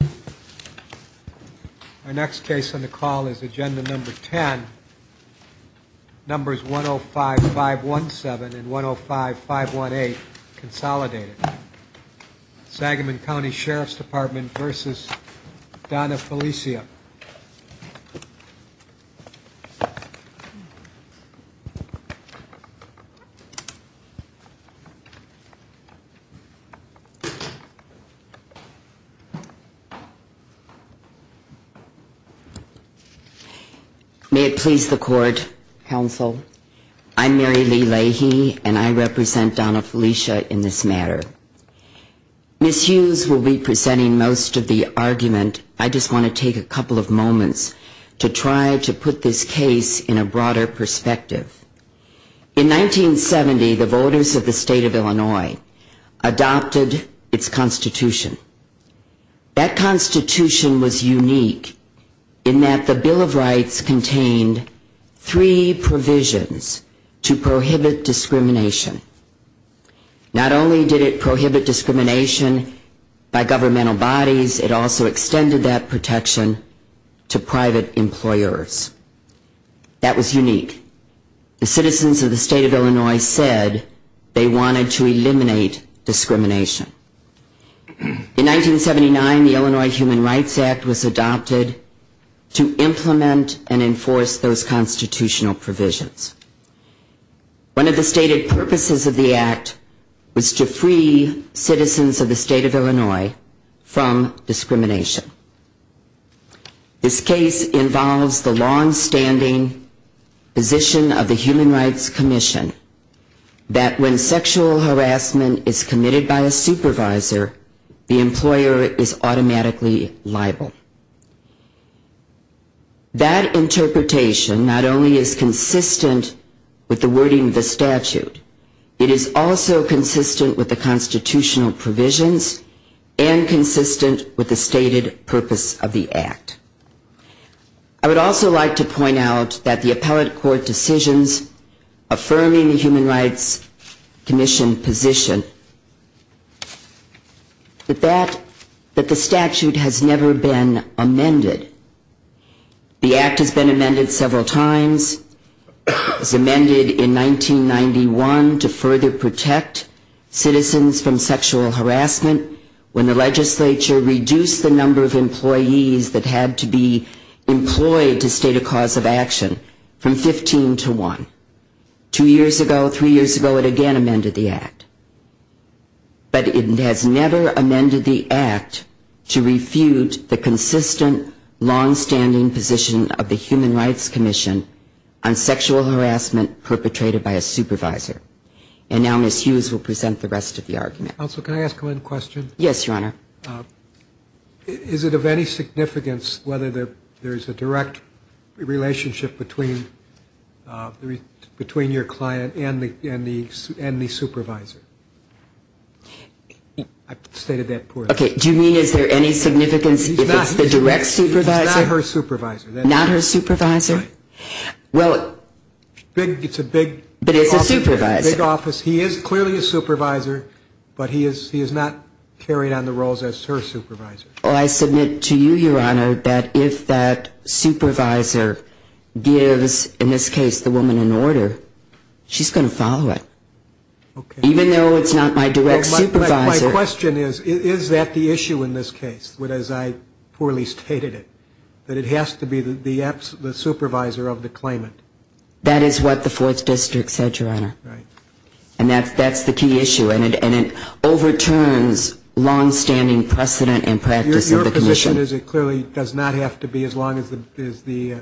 Our next case on the call is Agenda Number 10, Numbers 105-517 and 105-518, Consolidated. Sagamon County Sheriff's Department v. Donna Feleccia. Ms. Hughes will be presenting most of the argument. I just want to take a couple of moments to try to put this case in a broader perspective. In 1970, the voters of the state of Illinois adopted its Constitution. That Constitution was unique in that the Bill of Rights contained three provisions to prohibit discrimination. Not only did it prohibit discrimination by governmental bodies, it also extended that protection to private employers. That was unique. The citizens of the state of Illinois said they wanted to eliminate discrimination. In 1979, the Illinois Human Rights Act was adopted to implement and enforce those constitutional provisions. One of the stated purposes of the Act was to free citizens of the state of Illinois from discrimination. This case involves the longstanding position of the Human Rights Commission that when sexual harassment is committed by a supervisor, the employer is automatically liable. That interpretation not only is consistent with the wording of the statute, it is also consistent with the constitutional provisions and consistent with the stated purpose of the Act. I would also like to point out that the appellate court decisions affirming the Human Rights Commission position is that the statute has never been amended. The Act has been amended several times. It was amended in 1991 to further protect citizens from sexual harassment when the legislature reduced the number of employees that had to be employed to state a cause of action from 15 to 1. Two years ago, three years ago, it again amended the Act. But it has never amended the Act to refute the consistent, longstanding position of the Human Rights Commission on sexual harassment perpetrated by a supervisor. And now Ms. Hughes will present the rest of the argument. Counsel, can I ask one question? Yes, Your Honor. Is it of any significance whether there's a direct relationship between your client and the supervisor? I stated that poorly. Okay, do you mean is there any significance if it's the direct supervisor? It's not her supervisor. Not her supervisor? Well, it's a big office. But it's a supervisor. It's a big office. He is clearly a supervisor, but he is not carrying on the roles as her supervisor. Well, I submit to you, Your Honor, that if that supervisor gives, in this case, the woman an order, she's going to follow it. Okay. Even though it's not my direct supervisor. My question is, is that the issue in this case, as I poorly stated it, that it has to be the supervisor of the claimant? That is what the Fourth District said, Your Honor. Right. And that's the key issue. And it overturns longstanding precedent and practice of the commission. Your position is it clearly does not have to be as long as the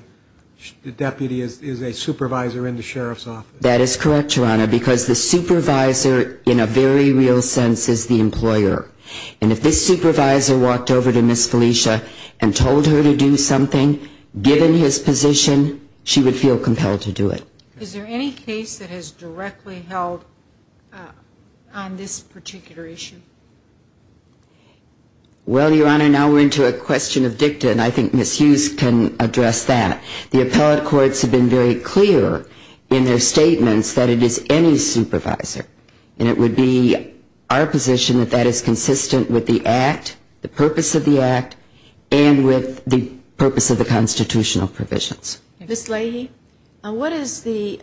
deputy is a supervisor in the sheriff's office. That is correct, Your Honor, because the supervisor, in a very real sense, is the employer. And if this supervisor walked over to Ms. Felicia and told her to do something, given his position, she would feel compelled to do it. Is there any case that has directly held on this particular issue? Well, Your Honor, now we're into a question of dicta, and I think Ms. Hughes can address that. The appellate courts have been very clear in their statements that it is any supervisor. And it would be our position that that is consistent with the act, the purpose of the act, and with the purpose of the constitutional provisions. Ms. Leahy, what is the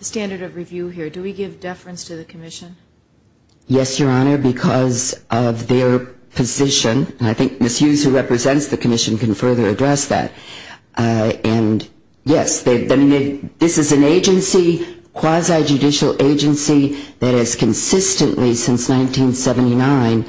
standard of review here? Do we give deference to the commission? Yes, Your Honor, because of their position. And I think Ms. Hughes, who represents the commission, can further address that. And, yes, this is an agency, quasi-judicial agency, that has consistently, since 1979,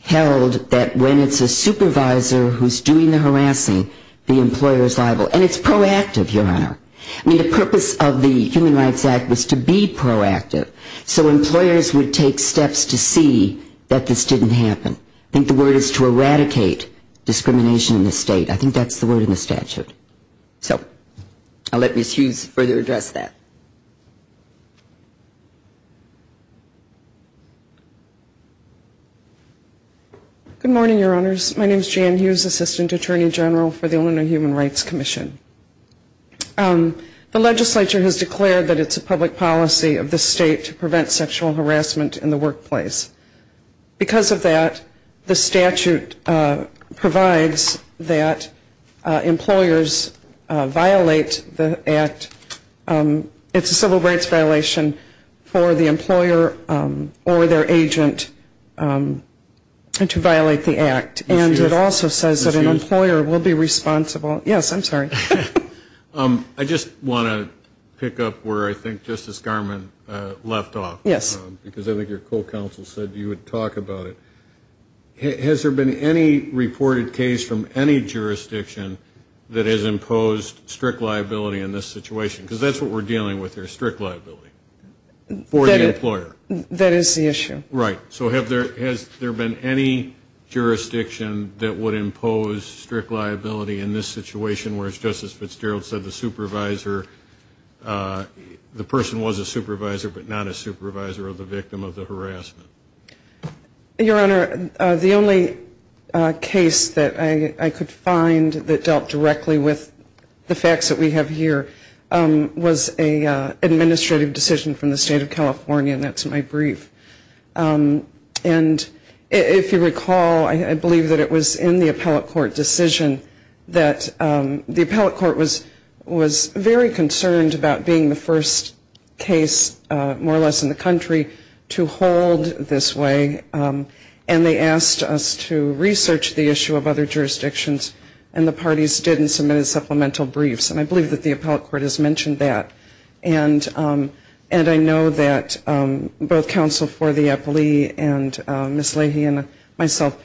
held that when it's a supervisor who's doing the harassing, the employer is liable. And it's proactive, Your Honor. I mean, the purpose of the Human Rights Act was to be proactive, so employers would take steps to see that this didn't happen. I think the word is to eradicate discrimination in the state. I think that's the word in the statute. So I'll let Ms. Hughes further address that. Good morning, Your Honors. My name is Jan Hughes, Assistant Attorney General for the Illinois Human Rights Commission. The legislature has declared that it's a public policy of the state to prevent sexual harassment in the workplace. Because of that, the statute provides that employers violate the act. It's a civil rights violation for the employer or their agent to violate the act. And it also says that an employer will be responsible. Yes, I'm sorry. I just want to pick up where I think Justice Garmon left off. Yes. Because I think your co-counsel said you would talk about it. Has there been any reported case from any jurisdiction that has imposed strict liability in this situation? Because that's what we're dealing with here, strict liability for the employer. That is the issue. Right. So has there been any jurisdiction that would impose strict liability in this situation, whereas Justice Fitzgerald said the person was a supervisor but not a supervisor of the victim of the harassment? Your Honor, the only case that I could find that dealt directly with the facts that we have here was an administrative decision from the state of California, and that's my brief. And if you recall, I believe that it was in the appellate court decision that the appellate court was very concerned about being the first case, more or less, in the country to hold this way. And they asked us to research the issue of other jurisdictions, and the parties did and submitted supplemental briefs. And I believe that the appellate court has mentioned that. And I know that both counsel for the appellee and Ms. Leahy and myself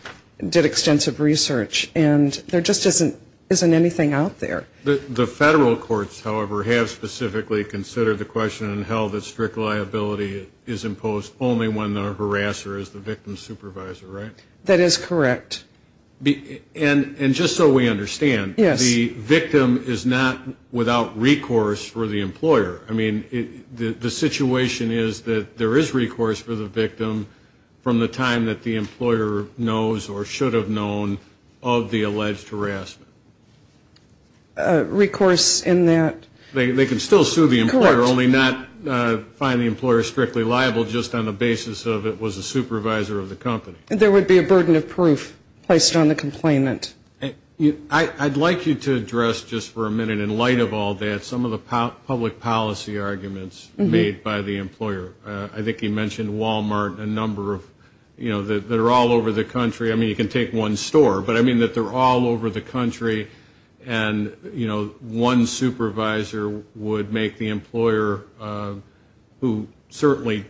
did extensive research. And there just isn't anything out there. The federal courts, however, have specifically considered the question and held that strict liability is imposed only when the harasser is the victim's supervisor, right? That is correct. And just so we understand, the victim is not without recourse for the employer. I mean, the situation is that there is recourse for the victim from the time that the employer knows or should have known of the alleged harassment. Recourse in that? They can still sue the employer, only not find the employer strictly liable just on the basis of it was a supervisor of the company. There would be a burden of proof placed on the complainant. I'd like you to address just for a minute, in light of all that, some of the public policy arguments made by the employer. I think he mentioned Walmart and a number of, you know, that are all over the country. I mean, you can take one store, but I mean that they're all over the country. And, you know, one supervisor would make the employer who certainly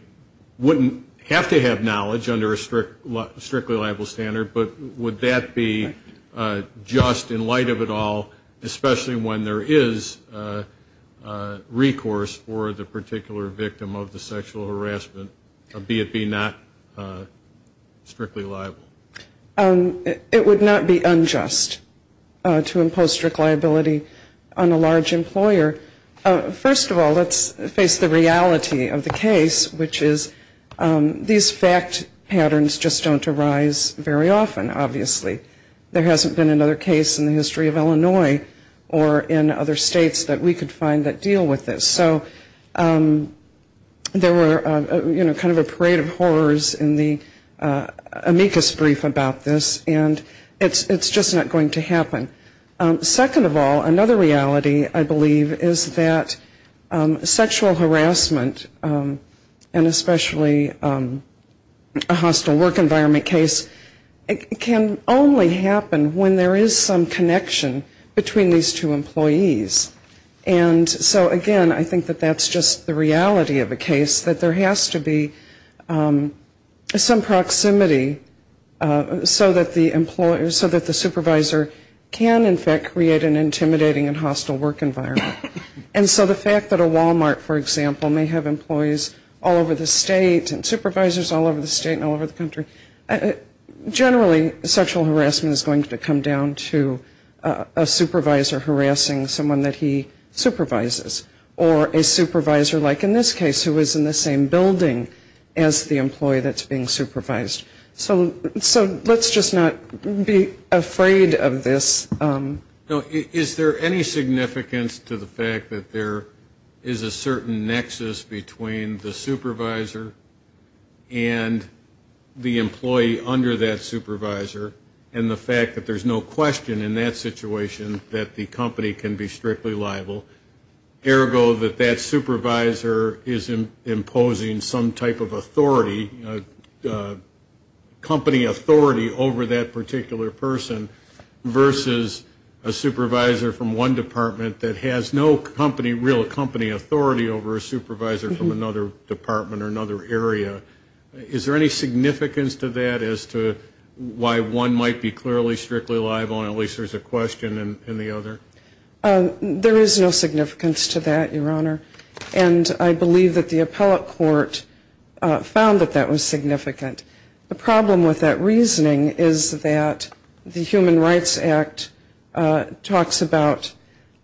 wouldn't have to have knowledge under a strictly liable standard, but would that be just in light of it all, especially when there is recourse for the particular victim of the sexual harassment, be it not strictly liable? It would not be unjust to impose strict liability on a large employer. First of all, let's face the reality of the case, which is these fact patterns just don't arise very often, obviously. There hasn't been another case in the history of Illinois or in other states that we could find that deal with this. So there were, you know, kind of a parade of horrors in the amicus brief about this, and it's just not going to happen. Second of all, another reality, I believe, is that sexual harassment, and especially a hostile work environment case, can only happen when there is some connection between these two employees. And so, again, I think that that's just the reality of the case, that there has to be some proximity so that the supervisor can, in fact, create an intimidating and hostile work environment. And so the fact that a Walmart, for example, may have employees all over the state and supervisors all over the state and all over the country, generally sexual harassment is going to come down to a supervisor harassing someone that he supervises, or a supervisor, like in this case, who is in the same building as the employee that's being supervised. So let's just not be afraid of this. Is there any significance to the fact that there is a certain nexus between the supervisor and the employee under that supervisor, and the fact that there's no question in that situation that the company can be strictly liable, ergo that that supervisor is imposing some type of authority, company authority, over that particular person, versus a supervisor from one department that has no company, real company authority, over a supervisor from another department or another area? Is there any significance to that as to why one might be clearly, strictly liable, and at least there's a question in the other? There is no significance to that, Your Honor. And I believe that the appellate court found that that was significant. The problem with that reasoning is that the Human Rights Act talks about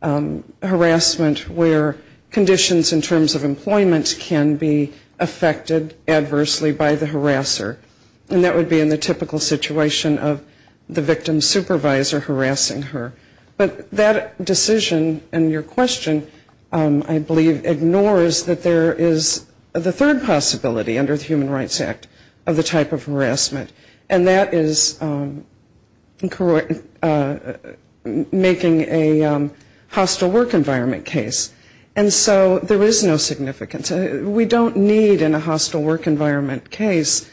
harassment where conditions in terms of employment can be affected adversely by the harasser. And that would be in the typical situation of the victim's supervisor harassing her. But that decision and your question, I believe, ignores that there is the third possibility under the Human Rights Act of the type of harassment, and that is making a hostile work environment case. And so there is no significance. We don't need in a hostile work environment case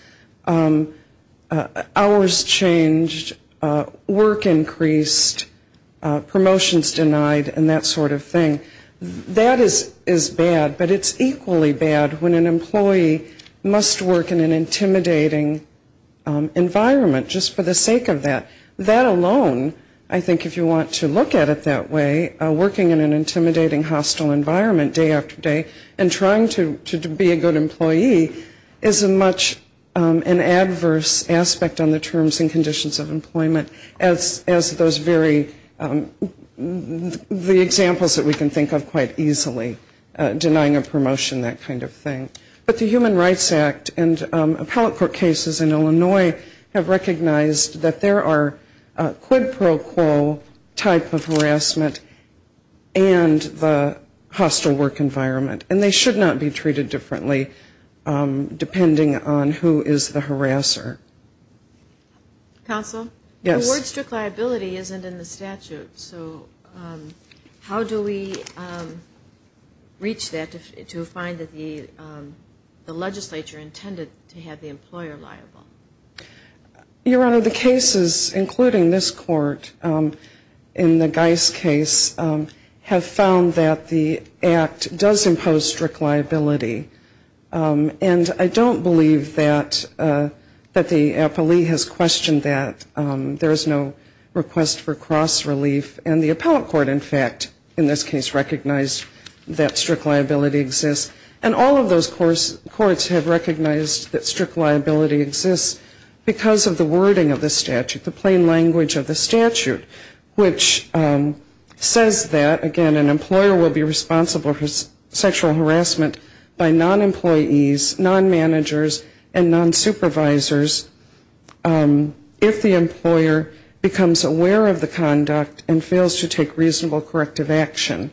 hours changed, work increased, promotions denied, and that sort of thing. That is bad, but it's equally bad when an employee must work in an intimidating environment just for the sake of that. That alone, I think if you want to look at it that way, working in an intimidating hostile environment day after day and trying to be a good employee is a much an adverse aspect on the terms and conditions of employment as those very, the examples that we can think of quite easily, denying a promotion, that kind of thing. But the Human Rights Act and appellate court cases in Illinois have recognized that there are quid pro quo type of harassment and the hostile work environment. And they should not be treated differently depending on who is the harasser. Counsel? Yes. The word strict liability isn't in the statute, so how do we reach that to find that the legislature intended to have the employer liable? Your Honor, the cases including this court in the Geis case have found that the act does impose strict liability. And I don't believe that the appellee has questioned that. There is no request for cross relief, and the appellate court in fact in this case recognized that strict liability exists. And all of those courts have recognized that strict liability exists because of the wording of the statute, the plain language of the statute, which says that, again, an employer will be responsible for sexual harassment by non-employees, non-managers and non-supervisors if the employer becomes aware of the conduct and fails to take reasonable corrective action.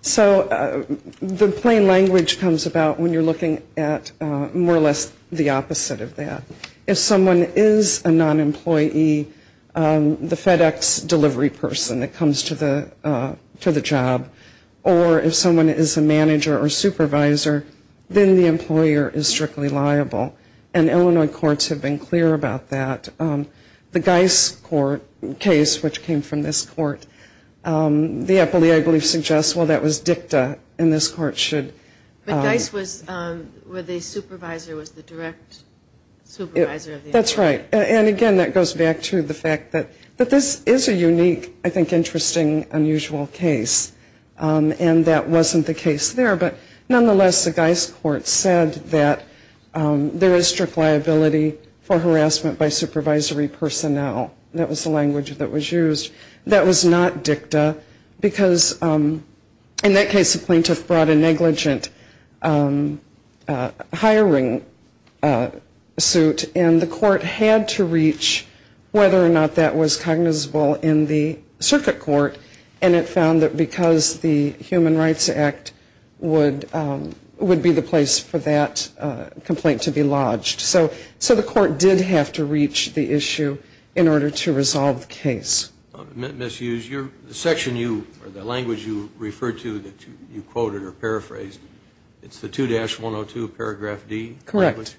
So the plain language comes about when you're looking at more or less the opposite of that. If someone is a non-employee, the FedEx delivery person that comes to the job, or if someone is a manager or supervisor, then the employer is strictly liable. And Illinois courts have been clear about that. The Geis case, which came from this court, the appellee I believe suggests, well, that was dicta, and this court should. But Geis was, where the supervisor was the direct supervisor of the employer. That's right. And again, that goes back to the fact that this is a unique, I think interesting, unusual case. And that wasn't the case there. But nonetheless, the Geis court said that there is strict liability for harassment by supervisory personnel. That was the language that was used. That was not dicta, because in that case, the plaintiff brought a negligent hiring suit, and the court had to reach whether or not that was cognizable in the circuit court. And it found that because the Human Rights Act would be the place for that complaint to be lodged. So the court did have to reach the issue in order to resolve the case. Ms. Hughes, the section you, or the language you referred to that you quoted or paraphrased, it's the 2-102 paragraph D? Correct.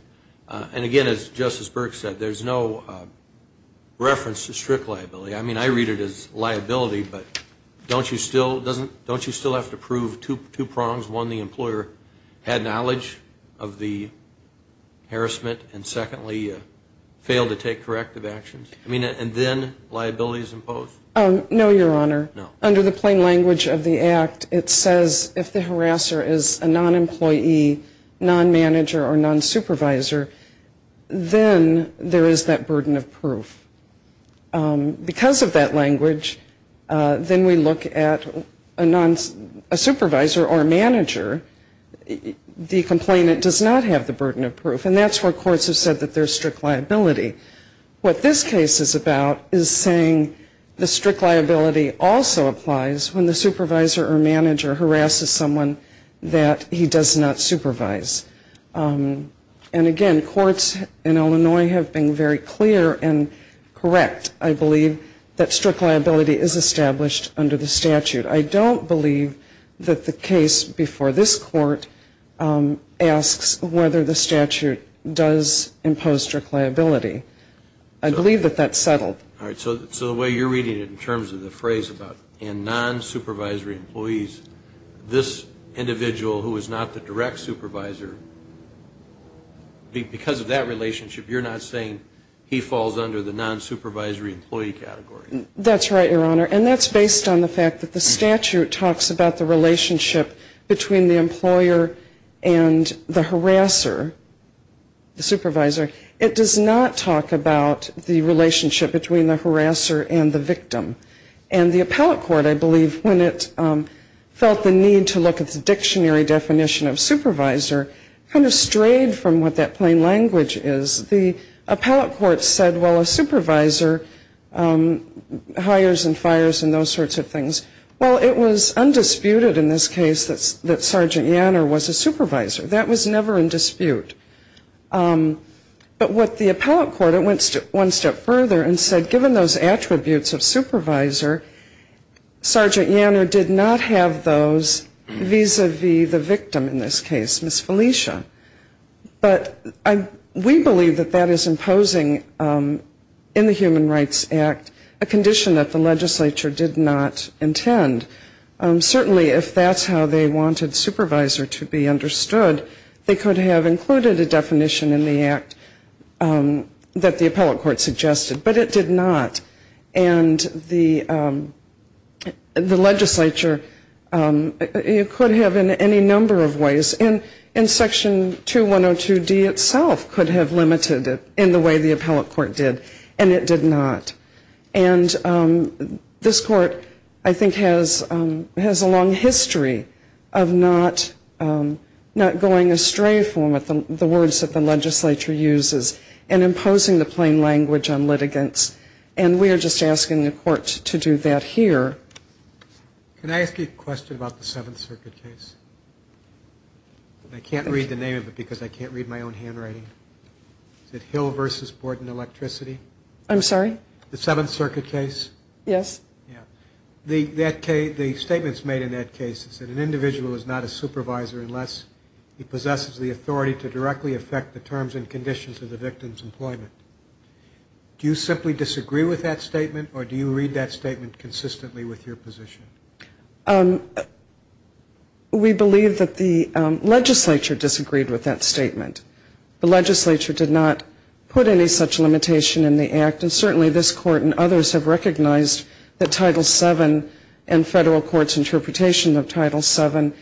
And again, as Justice Burke said, there's no reference to strict liability. I mean, I read it as liability, but don't you still have to prove two prongs? One, the employer had knowledge of the harassment, and secondly, failed to take corrective actions? I mean, and then liability is imposed? No, Your Honor. Under the plain language of the Act, it says if the harasser is a non-employee, non-manager, or non-supervisor, then there is that burden of proof. Because of that language, then we look at a supervisor or a manager. The complainant does not have the burden of proof, and that's where courts have said that there's strict liability. What this case is about is saying the strict liability also applies when the supervisor or manager harasses someone that he does not supervise. And again, courts in Illinois have been very clear and correct, I believe, that strict liability is established under the statute. I don't believe that the case before this court asks whether the statute does impose strict liability. I believe that that's settled. All right. So the way you're reading it in terms of the phrase about non-supervisory employees, this individual who is not the direct supervisor, because of that relationship, you're not saying he falls under the non-supervisory employee category? That's right, Your Honor. And that's based on the fact that the statute talks about the relationship between the employer and the harasser, the supervisor. It does not talk about the relationship between the harasser and the victim. And the appellate court, I believe, when it felt the need to look at the dictionary definition of supervisor, kind of strayed from what that plain language is. The appellate court said, well, a supervisor hires and fires and those sorts of things. Well, it was undisputed in this case that Sergeant Yanner was a supervisor. That was never in dispute. But what the appellate court, it went one step further and said given those attributes of supervisor, Sergeant Yanner did not have those vis-à-vis the victim in this case, Ms. Felicia. But we believe that that is imposing in the Human Rights Act a condition that the legislature did not intend. Certainly if that's how they wanted supervisor to be understood, they could have included a definition in the act that the appellate court suggested. But it did not. And the legislature, it could have in any number of ways. And Section 2102D itself could have limited it in the way the appellate court did. And it did not. And this court I think has a long history of not going astray from the words that the legislature uses and imposing the plain language on litigants. And we are just asking the court to do that here. Can I ask you a question about the Seventh Circuit case? I can't read the name of it because I can't read my own handwriting. Is it Hill v. Borden Electricity? I'm sorry? The Seventh Circuit case? Yes. The statements made in that case is that an individual is not a supervisor unless he possesses the authority to directly affect the terms and conditions of the victim's employment. Do you simply disagree with that statement or do you read that statement consistently with your position? We believe that the legislature disagreed with that statement. The legislature did not put any such limitation in the act. And certainly this court and others have recognized that Title VII and federal courts interpretation of Title VII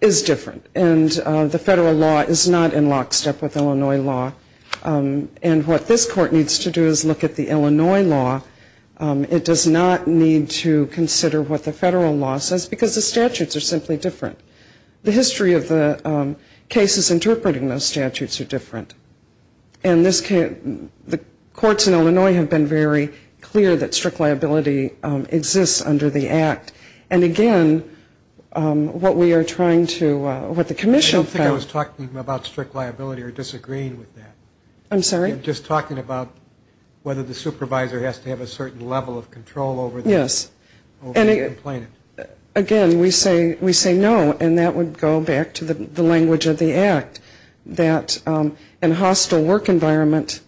is different. And the federal law is not in lockstep with Illinois law. And what this court needs to do is look at the Illinois law. It does not need to consider what the federal law says because the statutes are simply different. The history of the cases interpreting those statutes are different. And the courts in Illinois have been very clear that strict liability exists under the act. And again, what we are trying to, what the commission felt I don't think I was talking about strict liability or disagreeing with that. I'm sorry? I'm just talking about whether the supervisor has to have a certain level of control over the complainant. Again, we say no, and that would go back to the language of the act. That in hostile work environment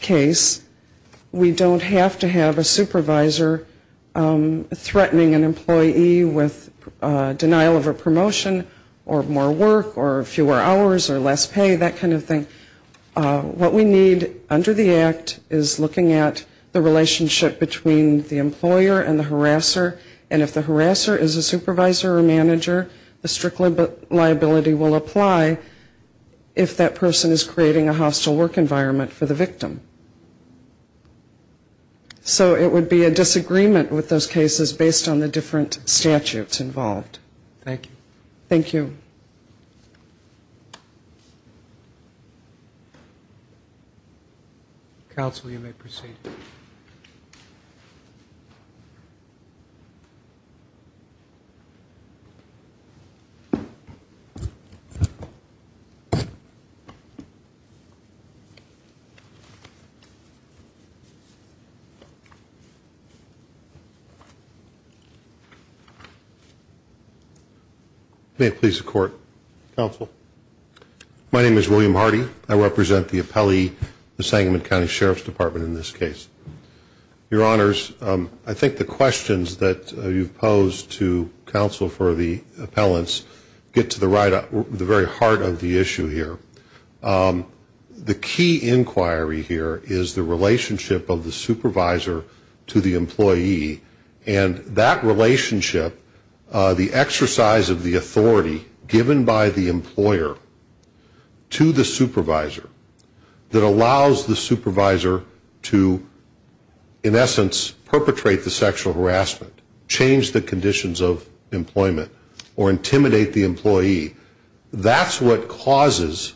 case, we don't have to have a supervisor threatening an employee with denial of a promotion or more work or fewer hours or less pay, that kind of thing. What we need under the act is looking at the relationship between the employer and the harasser. And if the harasser is a supervisor or manager, the strict liability will apply if that person is creating a hostile work environment for the victim. So it would be a disagreement with those cases based on the different statutes involved. Thank you. Counsel, you may proceed. My name is William Hardy. I represent the appellee, the Sangamon County Sheriff's Department in this case. Your honors, I think the questions that you've posed to counsel for the appellants get to the very heart of the issue here. The key inquiry here is the relationship of the supervisor to the employee. And that relationship, the exercise of the authority given by the employer to the supervisor that allows the supervisor to, in essence, perpetrate the sexual harassment, change the conditions of employment, or intimidate the employee. That's what causes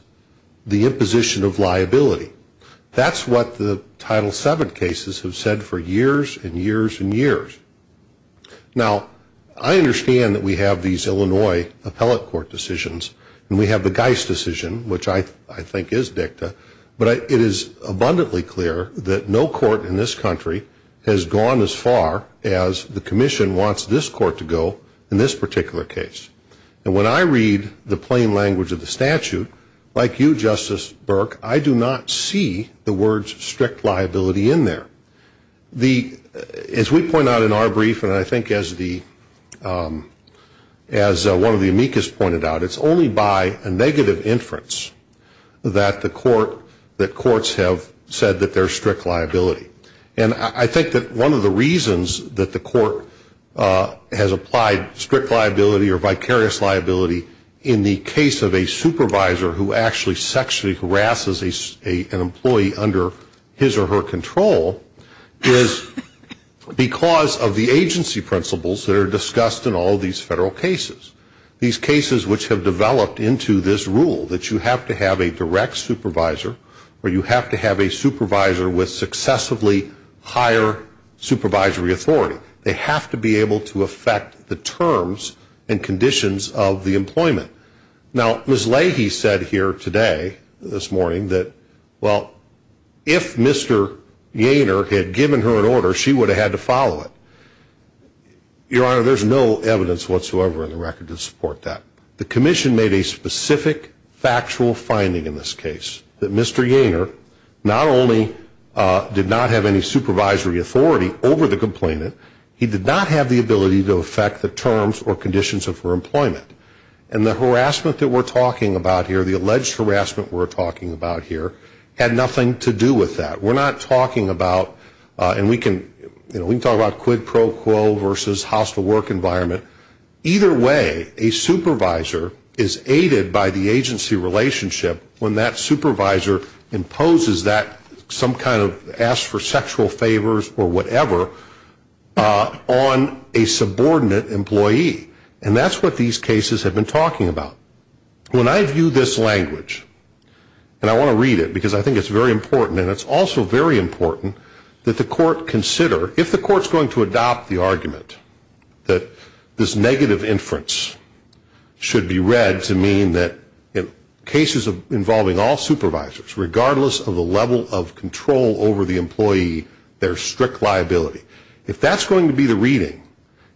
the imposition of liability. That's what the Title VII cases have said for years and years and years. Now, I understand that we have these Illinois appellate court decisions. And we have the Geist decision, which I think is dicta. But it is abundantly clear that no court in this country has gone as far as the commission wants this court to go in this particular case. And when I read the plain language of the statute, like you, Justice Burke, I do not see that as a violation. I do not see the words strict liability in there. As we point out in our brief, and I think as one of the amicus pointed out, it's only by a negative inference that courts have said that there's strict liability. And I think that one of the reasons that the court has applied strict liability or vicarious liability in the case of a supervisor who actually sexually harasses an employee under his or her control is because of the agency principles that are discussed in all these federal cases. These cases which have developed into this rule that you have to have a direct supervisor or you have to have a supervisor with successively higher supervisory authority. They have to be able to affect the terms and conditions of the employment. Now, Ms. Leahy said here today, this morning, that, well, if Mr. Yainer had given her an order, she would have had to follow it. Your Honor, there's no evidence whatsoever in the record to support that. The commission made a specific factual finding in this case that Mr. Yainer not only did not have any supervisory authority over the complainant, he did not have the ability to affect the terms or conditions of her employment. And the harassment that we're talking about here, the alleged harassment we're talking about here, had nothing to do with that. We're not talking about, and we can talk about quid pro quo versus hostile work environment. Either way, a supervisor is aided by the agency relationship when that supervisor imposes that some kind of, asks for sexual favors or whatever on a subordinate employee. And that's what these cases have been talking about. When I view this language, and I want to read it because I think it's very important, and it's also very important, that the court consider, if the court's going to adopt the argument that this negative inference should be read to mean that in cases involving all supervisors, regardless of the level of control over the employee, there's strict liability. If that's going to be the reading,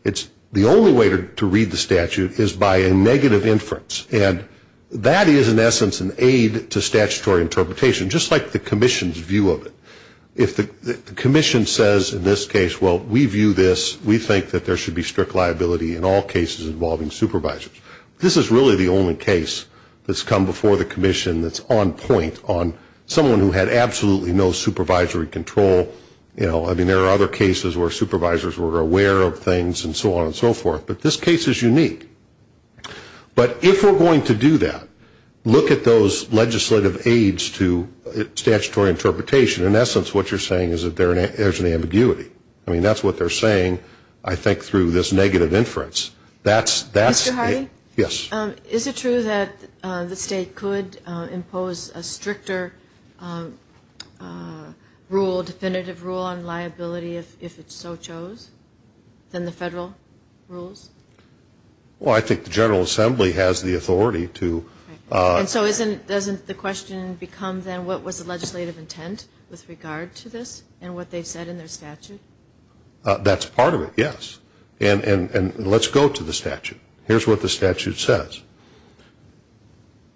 the only way to read the statute is by a negative inference. And that is, in essence, an aid to statutory interpretation, just like the commission's view of it. If the commission says in this case, well, we view this, we think that there should be strict liability in all cases involving supervisors, this is really the only case that's come before the commission that's on point on someone who had absolutely no supervisory control. I mean, there are other cases where supervisors were aware of things and so on and so forth. But this case is unique. But if we're going to do that, look at those legislative aids to statutory interpretation. In essence, what you're saying is that there's an ambiguity. I mean, that's what they're saying, I think, through this negative inference. Mr. Hardy? Yes. Is it true that the state could impose a stricter rule, definitive rule, on liability if it so chose than the federal rules? Well, I think the General Assembly has the authority to. And so doesn't the question become then what was the legislative intent with regard to this and what they've said in their statute? That's part of it, yes. And let's go to the statute. Here's what the statute says.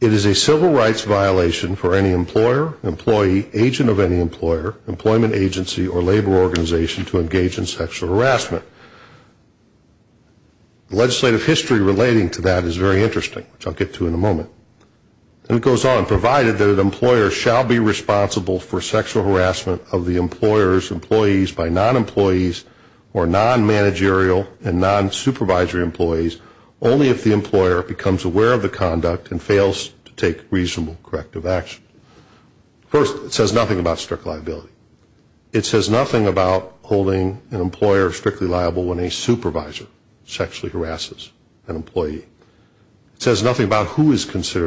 It is a civil rights violation for any employer, employee, agent of any employer, employment agency, or labor organization to engage in sexual harassment. The legislative history relating to that is very interesting, which I'll get to in a moment. And it goes on, provided that an employer shall be responsible for sexual harassment of the employer's employees by non-employees or non-managerial and non-supervisory employees only if the employer becomes aware of the conduct and fails to take reasonable corrective action. First, it says nothing about strict liability. It says nothing about who is considered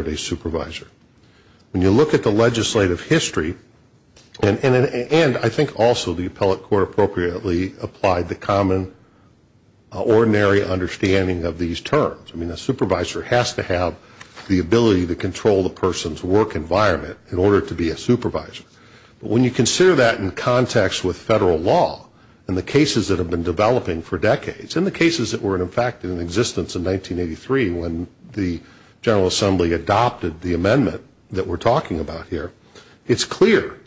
a supervisor. When you look at the legislative history, and I think also the appellate court appropriately applied the common, ordinary understanding of these terms. I mean, a supervisor has to have the ability to control the person's work environment in order to be a supervisor. But when you consider that in context with federal law and the cases that have been developing for decades and the cases that were in fact in existence in 1983 when the General Assembly adopted the amendment that we're talking about here, it's clear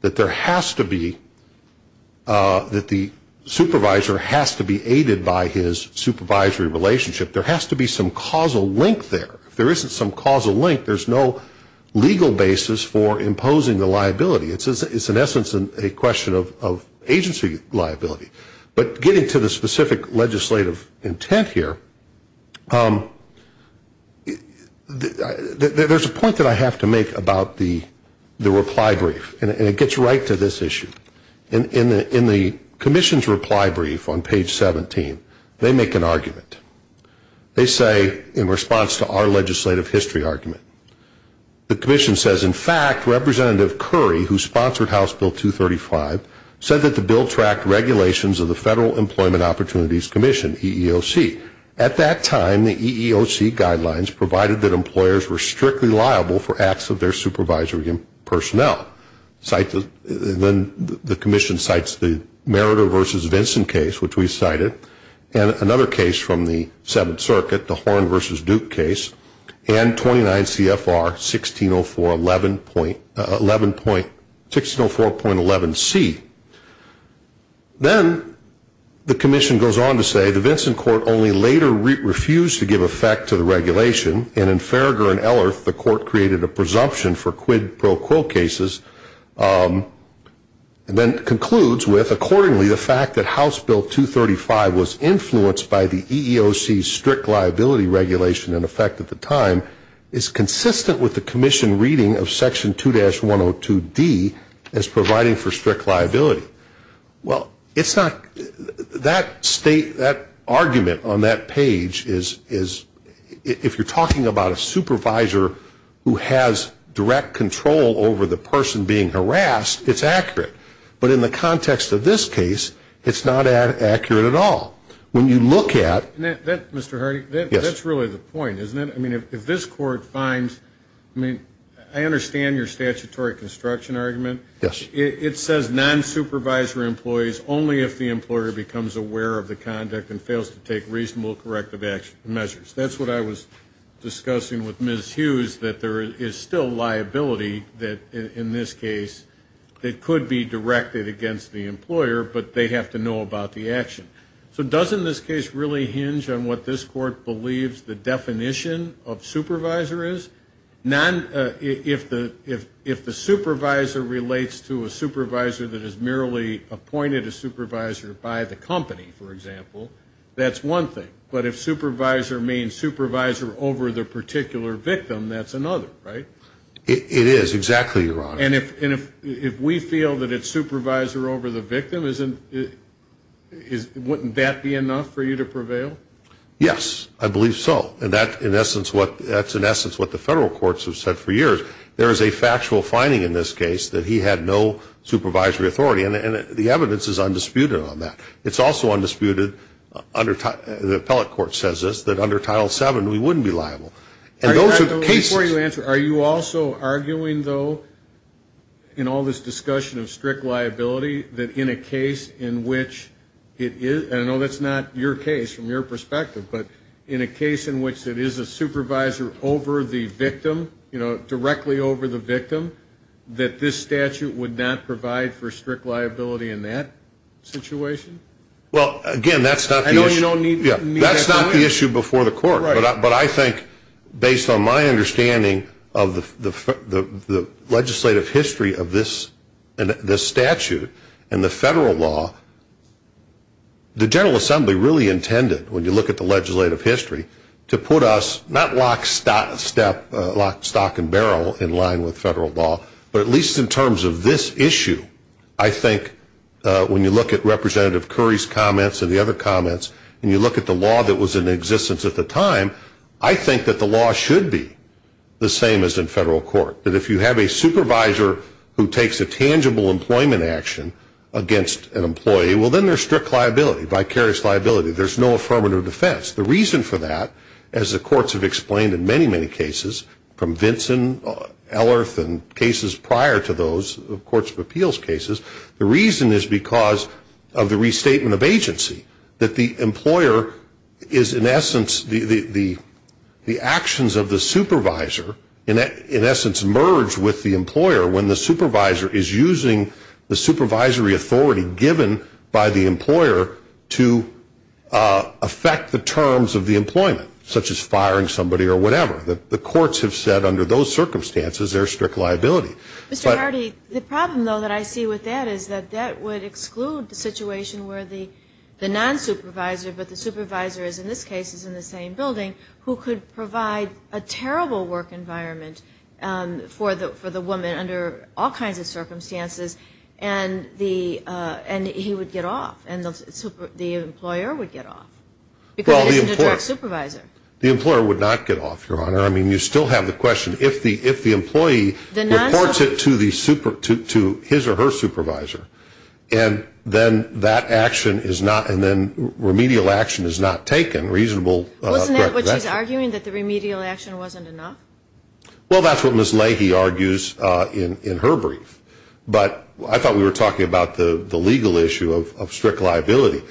that there has to be, that the supervisor has to be aided by his supervisory relationship. There has to be some causal link there. If there isn't some causal link, there's no legal basis for imposing the liability. It's in essence a question of agency liability. But getting to the specific legislative intent here, there's a point that I have to make about the reply brief, and it gets right to this issue. In the commission's reply brief on page 17, they make an argument. They say, in response to our legislative history argument, the commission says, in fact, Representative Curry, who sponsored House Bill 235, said that the bill tracked regulations of the Federal Employment Opportunities Commission, EEOC. At that time, the EEOC guidelines provided that employers were strictly liable for acts of their supervisory personnel. Then the commission cites the Meritor v. Vinson case, which we cited, and another case from the Seventh Circuit, the Horn v. Duke case, and 29 CFR 1604.11c. Then the commission goes on to say, the Vinson court only later refused to give effect to the regulation, and in Farragher v. Ellerth, the court created a presumption for quid pro quo cases, and then concludes with, accordingly, the fact that House Bill 235 was influenced by the EEOC's strict liability regulation in effect at the time, is consistent with the commission reading of Section 2-102D as providing for strict liability. Well, it's not, that state, that argument on that page is, if you're talking about a supervisor who has direct control over the personal affairs and being harassed, it's accurate. But in the context of this case, it's not accurate at all. When you look at... Mr. Hardy, that's really the point, isn't it? I mean, if this court finds, I mean, I understand your statutory construction argument. It says non-supervisor employees only if the employer becomes aware of the conduct and fails to take reasonable corrective measures. That's what I was discussing with Ms. Hughes, that there is still liability in this case that could be directed against the employer, but they have to know about the action. So doesn't this case really hinge on what this court believes the definition of supervisor is? If the supervisor relates to a supervisor that is merely appointed a supervisor by the company, for example, that's one thing. But if supervisor means supervisor over the particular victim, that's another, right? It is, exactly, Your Honor. And if we feel that it's supervisor over the victim, wouldn't that be enough for you to prevail? Yes, I believe so, and that's in essence what the federal courts have said for years. There is a factual finding in this case that he had no supervisory authority, and the evidence is undisputed on that. It's also undisputed, the appellate court says this, that under Title VII we wouldn't be liable. And those are cases... I don't know if that's your perspective, but in a case in which it is a supervisor over the victim, you know, directly over the victim, that this statute would not provide for strict liability in that situation? Well, again, that's not the issue before the court. But I think based on my understanding of the legislative history of this statute and the federal law, the General Assembly really intended, when you look at the legislative history, to put us not lock, stock, and barrel in line with federal law, but at least in terms of this issue, I think when you look at Representative Curry's comments and the other comments, and you look at the law that was in existence at the time, I think that the law should be the same as in federal court. That if you have a supervisor who takes a tangible employment action against an employee, well, then there's strict liability, vicarious liability. There's no affirmative defense. The reason for that, as the courts have explained in many, many cases from Vinson, Ellerth, and cases prior to those, the Courts of Appeals cases, the reason is because of the restatement of agency, that the employer is in essence, the actions of the supervisor in essence merge with the employer when the supervisor is using the supervisory authority given by the employer to affect the terms of the employment, such as firing somebody or whatever. The courts have said under those circumstances there's strict liability. Mr. Hardy, the problem, though, that I see with that is that that would exclude the situation where the nonsupervisor, but the supervisor is in this case in the same building, who could provide a terrible work environment for the woman under all kinds of circumstances, and he would get off and the employer would get off because he's a direct supervisor. The employer would not get off, Your Honor. I mean, you still have the question. If the employee reports it to his or her supervisor, and then that action is not, and then remedial action is not taken, reasonable. Wasn't that what she's arguing, that the remedial action wasn't enough? Well, that's what Ms. Leahy argues in her brief. But I thought we were talking about the legal issue of strict liability.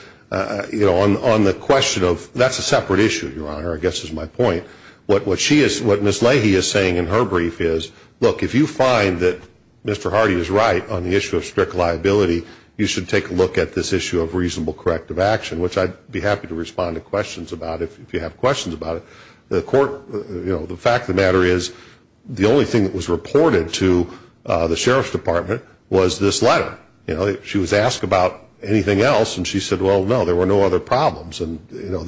You know, on the question of, that's a separate issue, Your Honor, I guess is my point. What she is, what Ms. Leahy is saying in her brief is, look, if you find that Mr. Hardy is right on the issue of strict liability, you should take a look at this issue of reasonable corrective action, which I'd be happy to respond to questions about if you have questions about it. The court, you know, the fact of the matter is, the only thing that was reported to the Sheriff's Department was this letter. You know, she was asked about anything else, and she said, well, no, there were no other problems. And, you know,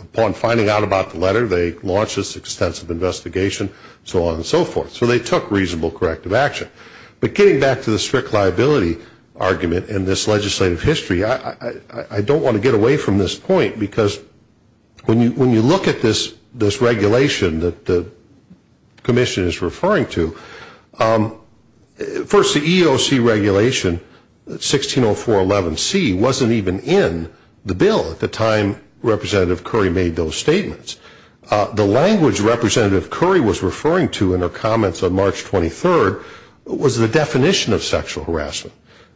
upon finding out about the letter, they launched this extensive investigation, so on and so forth. So they took reasonable corrective action. But getting back to the strict liability argument in this legislative history, I don't want to get away from this point because when you look at this regulation that the commission is referring to, first, the EOC regulation, 160411C, wasn't even in the bill at the time Representative Curry made those statements. The language Representative Curry was referring to in her comments on March 23rd was the definition of sexual harassment,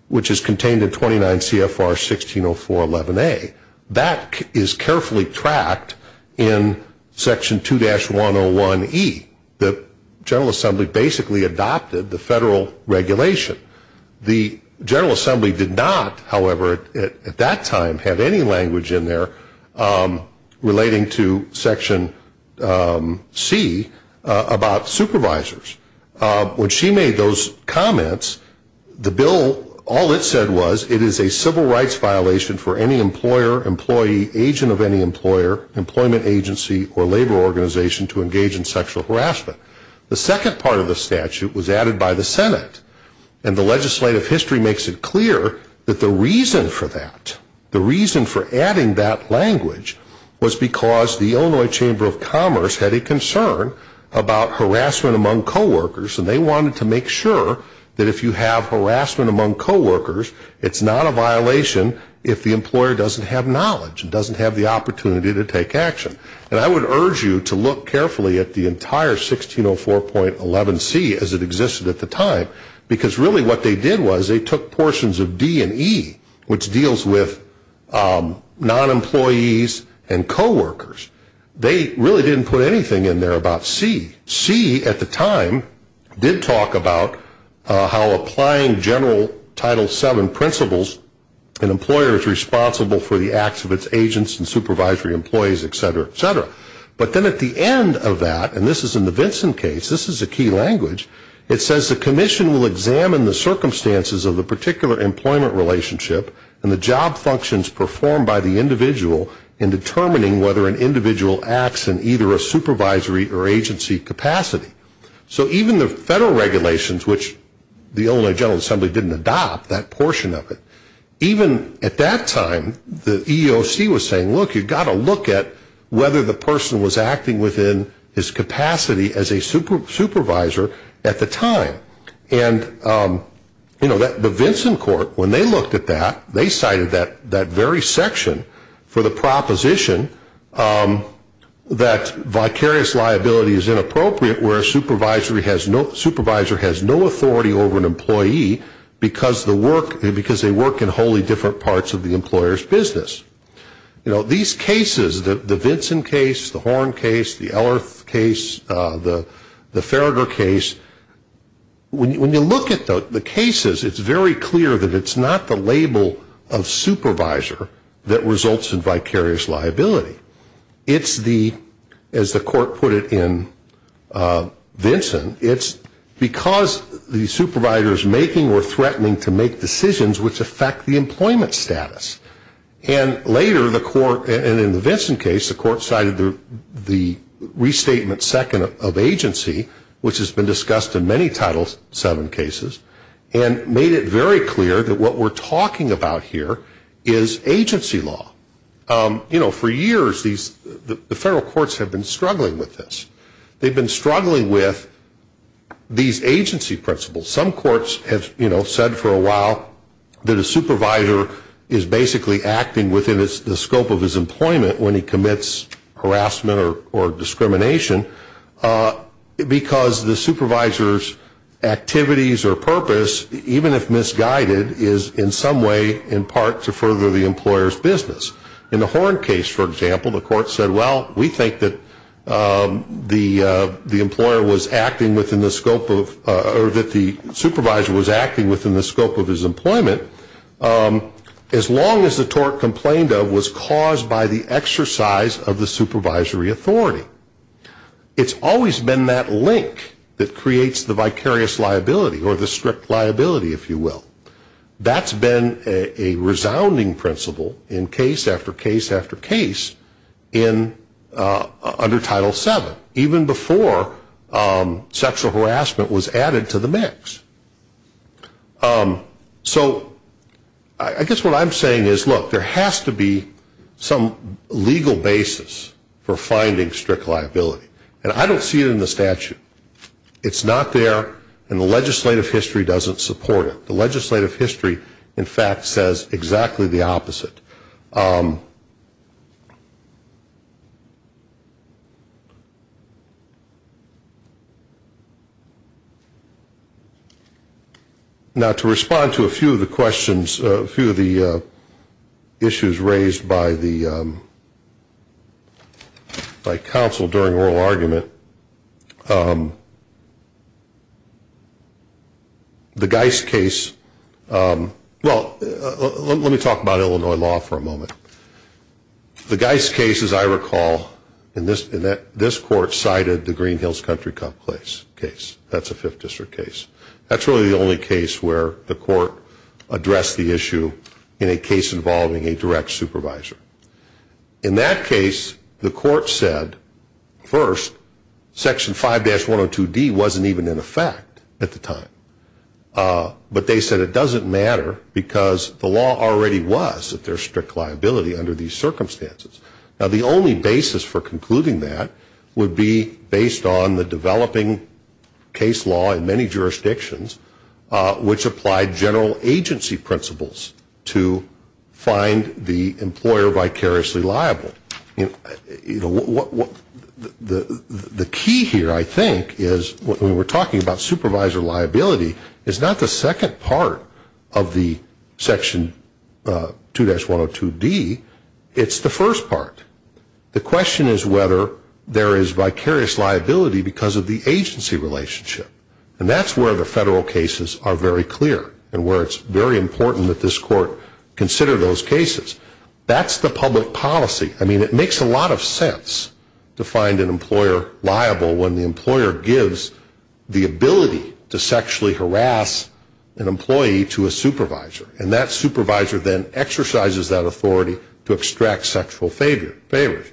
which is contained in 29 CFR 160411A. That is carefully tracked in Section 2-101E. The General Assembly basically adopted the federal regulation. The General Assembly did not, however, at that time, have any language in there relating to Section C about supervisors. When she made those comments, the bill, all it said was, it is a civil rights violation for any employer, employee, agent of any employer, employment agency, or labor organization to engage in sexual harassment. The second part of the statute was added by the Senate, and the legislative history makes it clear that the reason for that, the reason for adding that language, was because the Illinois Chamber of Commerce had a concern about harassment among coworkers, and they wanted to make sure that if you have harassment among coworkers, it's not a violation if the employer doesn't have knowledge and doesn't have the opportunity to take action. And I would urge you to look carefully at the entire 160411C as it existed at the time, because really what they did was they took portions of D and E, which deals with non-employees and coworkers. They really didn't put anything in there about C. C at the time did talk about how applying general Title VII principles, an employer is responsible for the acts of its agents and supervisory employees, et cetera, et cetera. But then at the end of that, and this is in the Vinson case, this is a key language, it says the commission will examine the circumstances of the particular employment relationship and the job functions performed by the individual in determining whether an individual acts in either a supervisory or agency capacity. So even the federal regulations, which the Illinois General Assembly didn't adopt that portion of it, even at that time, the EEOC was saying, look, you've got to look at whether the person was acting within his capacity as a supervisor at the time. And, you know, the Vinson court, when they looked at that, they cited that very section for the proposition that vicarious liability is inappropriate where a supervisor has no authority over an employee because they work in wholly different parts of the employer's business. You know, these cases, the Vinson case, the Horn case, the Ellerth case, the Farragher case, when you look at the cases, it's very clear that it's not the label of supervisor that results in vicarious liability. It's the, as the court put it in Vinson, it's because the supervisor is making or threatening to make decisions which affect the employment status. And later, the court, and in the Vinson case, the court cited the restatement second of agency, which has been discussed in many Title VII cases, and made it very clear that what we're talking about here is agency law. You know, for years, the federal courts have been struggling with this. They've been struggling with these agency principles. Some courts have, you know, said for a while that a supervisor is basically acting within the scope of his employment when he commits harassment or discrimination because the supervisor's activities or purpose, even if misguided, is in some way in part to further the employer's business. In the Horn case, for example, the court said, well, We think that the employer was acting within the scope of, or that the supervisor was acting within the scope of his employment, as long as the tort complained of was caused by the exercise of the supervisory authority. It's always been that link that creates the vicarious liability, or the strict liability, if you will. That's been a resounding principle in case after case after case under Title VII, even before sexual harassment was added to the mix. So I guess what I'm saying is, look, there has to be some legal basis for finding strict liability. And I don't see it in the statute. It's not there, and the legislative history doesn't support it. The legislative history, in fact, says exactly the opposite. Now, to respond to a few of the questions, a few of the issues raised by counsel during oral argument, the Geis case, well, let me talk about Illinois law for a moment. The Geis case, as I recall, this court cited the Green Hills Country Cup case. That's a Fifth District case. That's really the only case where the court addressed the issue in a case involving a direct supervisor. In that case, the court said, first, Section 5-102D wasn't even in effect at the time. But they said it doesn't matter because the law already was that there's strict liability under these circumstances. Now, the only basis for concluding that would be based on the developing case law in many jurisdictions, which applied general agency principles to find the employer vicariously liable. The key here, I think, is when we're talking about supervisor liability, is not the second part of the Section 2-102D. It's the first part. The question is whether there is vicarious liability because of the agency relationship. And that's where the federal cases are very clear and where it's very important that this court consider those cases. That's the public policy. I mean, it makes a lot of sense to find an employer liable when the employer gives the ability to sexually harass an employee to a supervisor. And that supervisor then exercises that authority to extract sexual favors.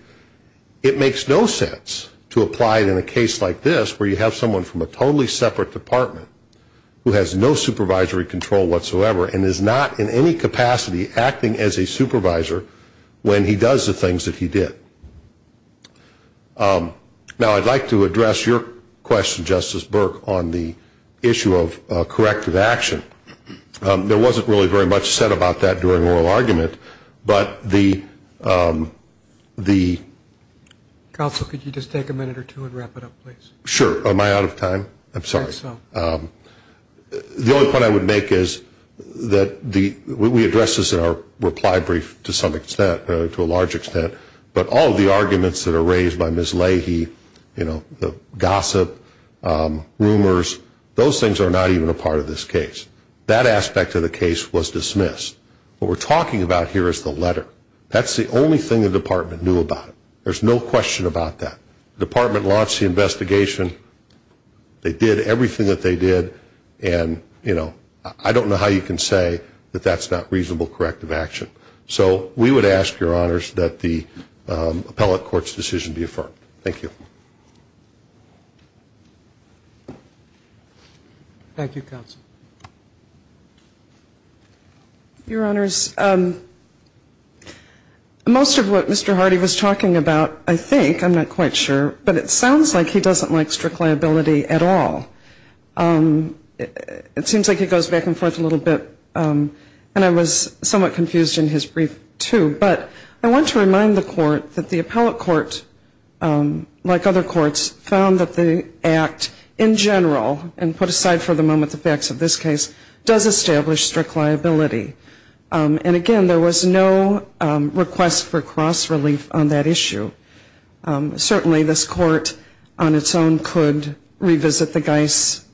It makes no sense to apply it in a case like this where you have someone from a totally separate department who has no supervisory control whatsoever and is not in any capacity acting as a supervisor when he does the things that he did. Now, I'd like to address your question, Justice Burke, on the issue of corrective action. There wasn't really very much said about that during oral argument. But the... Counsel, could you just take a minute or two and wrap it up, please? Sure. Am I out of time? I'm sorry. I think so. The only point I would make is that we addressed this in our reply brief to some extent, to a large extent. But all of the arguments that are raised by Ms. Leahy, you know, the gossip, rumors, those things are not even a part of this case. That aspect of the case was dismissed. What we're talking about here is the letter. That's the only thing the department knew about it. There's no question about that. The department launched the investigation. They did everything that they did. And, you know, I don't know how you can say that that's not reasonable corrective action. So we would ask, Your Honors, that the appellate court's decision be affirmed. Thank you. Thank you, Counsel. Your Honors, most of what Mr. Hardy was talking about, I think, I'm not quite sure, but it sounds like he doesn't like strict liability at all. It seems like he goes back and forth a little bit, and I was somewhat confused in his brief, too. But I want to remind the court that the appellate court, like other courts, found that the act in general, and put aside for the moment the facts of this case, does establish strict liability. And, again, there was no request for cross-relief on that issue. Certainly this court on its own could revisit the Geis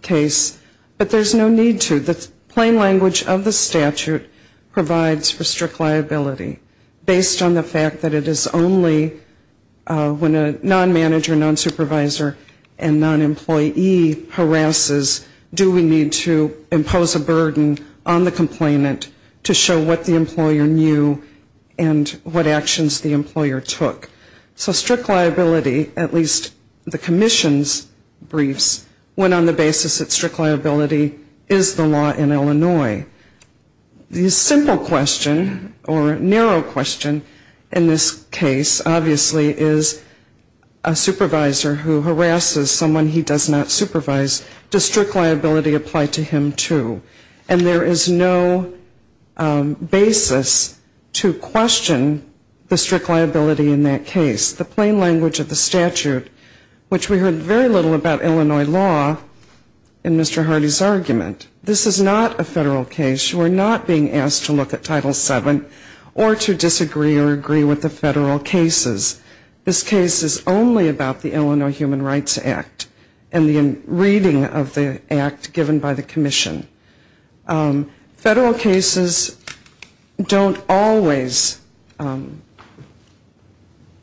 case, but there's no need to. The plain language of the statute provides for strict liability, based on the fact that it is only when a non-manager, non-supervisor, and non-employee harasses, do we need to impose a burden on the complainant to show what the employer knew and what actions the employer took. So strict liability, at least the commission's briefs, went on the basis that strict liability is the law in Illinois. The simple question, or narrow question, in this case, obviously, is a supervisor who harasses someone he does not supervise, does strict liability apply to him, too? And there is no basis to question the strict liability in that case. The plain language of the statute, which we heard very little about Illinois law in Mr. Hardy's argument. This is not a federal case. You are not being asked to look at Title VII or to disagree or agree with the federal cases. This case is only about the Illinois Human Rights Act and the reading of the act given by the commission. Federal cases don't always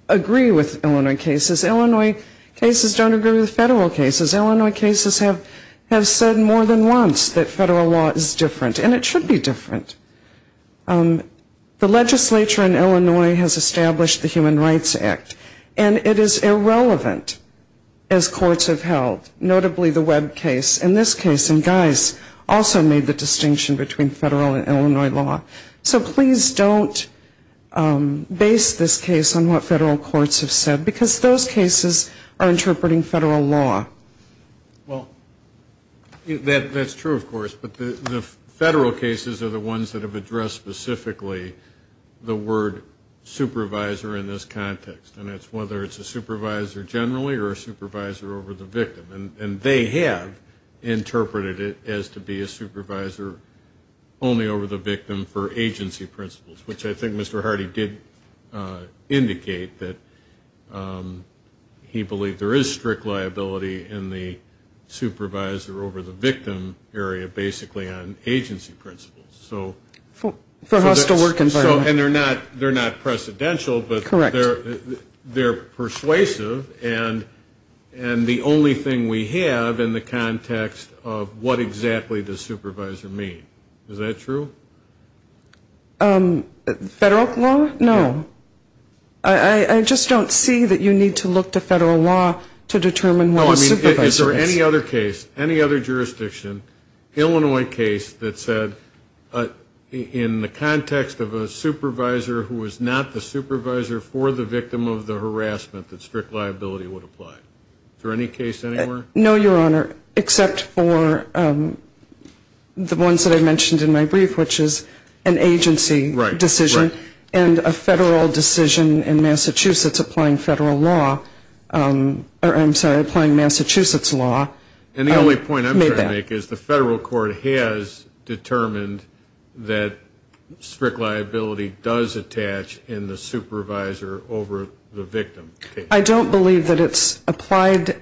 agree with Illinois cases. Illinois cases don't agree with federal cases. Illinois cases have said more than once that federal law is different, and it should be different. The legislature in Illinois has established the Human Rights Act, and it is irrelevant, as courts have held, notably the Webb case. In this case, and Geis also made the distinction between federal and Illinois law. So please don't base this case on what federal courts have said, because those cases are interpreting federal law. Well, that's true, of course, but the federal cases are the ones that have addressed specifically the word supervisor in this context. And that's whether it's a supervisor generally or a supervisor over the victim. And they have interpreted it as to be a supervisor only over the victim for agency principles, which I think Mr. Hardy did indicate that he believed there is strict liability in the supervisor over the victim area basically on agency principles. For hostile work environment. And they're not precedential, but they're persuasive, and the only thing we have in the context of what exactly does supervisor mean. Is that true? Federal law? No. I just don't see that you need to look to federal law to determine what a supervisor is. Is there any other case, any other jurisdiction, Illinois case that said in the context of a supervisor who was not the supervisor for the victim of the harassment that strict liability would apply? Is there any case anywhere? No, Your Honor, except for the ones that I mentioned in my brief, which is an agency decision and a federal decision in Massachusetts applying federal law. I'm sorry, applying Massachusetts law. And the only point I'm trying to make is the federal court has determined that strict liability does attach in the supervisor over the victim case. I don't believe that it's applied,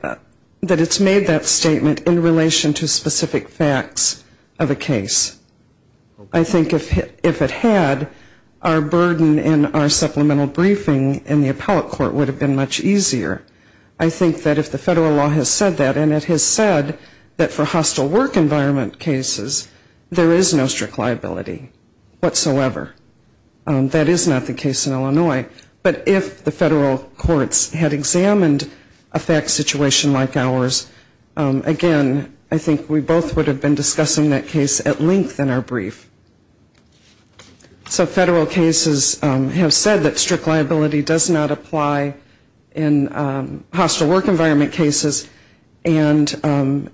that it's made that statement in relation to specific facts of a case. I think if it had, our burden in our supplemental briefing in the appellate court would have been much easier. I think that if the federal law has said that, and it has said that for hostile work environment cases, there is no strict liability whatsoever. That is not the case in Illinois. But if the federal courts had examined a fact situation like ours, again, I think we both would have been discussing that case at length in our brief. So federal cases have said that strict liability does not apply in hostile work environment cases. And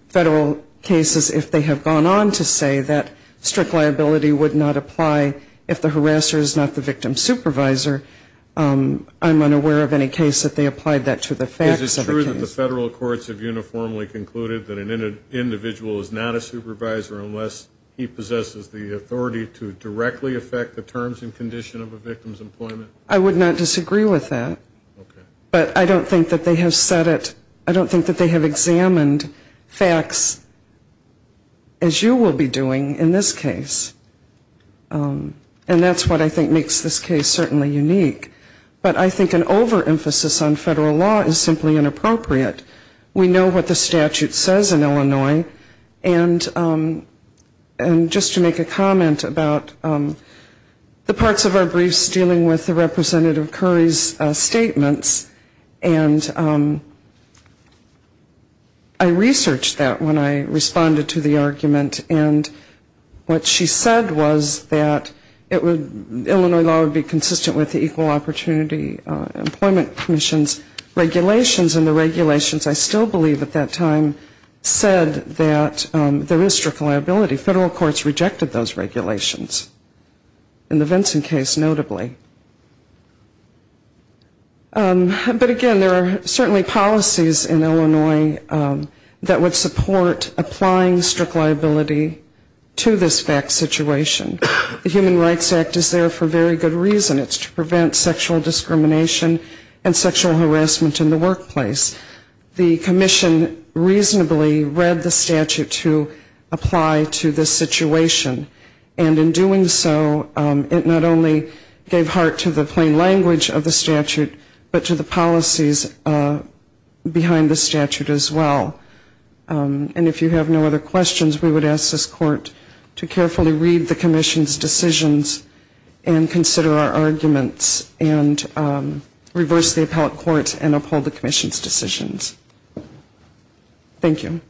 federal cases, if they have gone on to say that strict liability would not apply if the person was not the supervisor, that is not the case. If the harasser is not the victim's supervisor, I'm unaware of any case that they applied that to the facts of the case. Is it true that the federal courts have uniformly concluded that an individual is not a supervisor unless he possesses the authority to directly affect the terms and condition of a victim's employment? I would not disagree with that. But I don't think that they have said it, I don't think that they have examined facts as you will be doing in this case. And that's what I think makes this case certainly unique. But I think an overemphasis on federal law is simply inappropriate. We know what the statute says in Illinois, and just to make a comment about the parts of our briefs dealing with Representative Curry's statements, and I researched that when I responded to the argument. And what she said was that Illinois law would be consistent with the Equal Opportunity Employment Commission's regulations, and the regulations, I still believe at that time, said that there is strict liability. Federal courts rejected those regulations, in the Vinson case notably. But again, there are certainly policies in Illinois that would support applying strict liability to this fact situation. The Human Rights Act is there for very good reason, it's to prevent sexual discrimination and sexual harassment in the workplace. The commission reasonably read the statute to apply to this situation, and in doing so, it not only gets rid of strict liability, but it also gets rid of strict liability. And so we gave heart to the plain language of the statute, but to the policies behind the statute as well. And if you have no other questions, we would ask this court to carefully read the commission's decisions, and consider our arguments, and reverse the appellate court, and uphold the commission's decisions. Thank you. Salve Dei.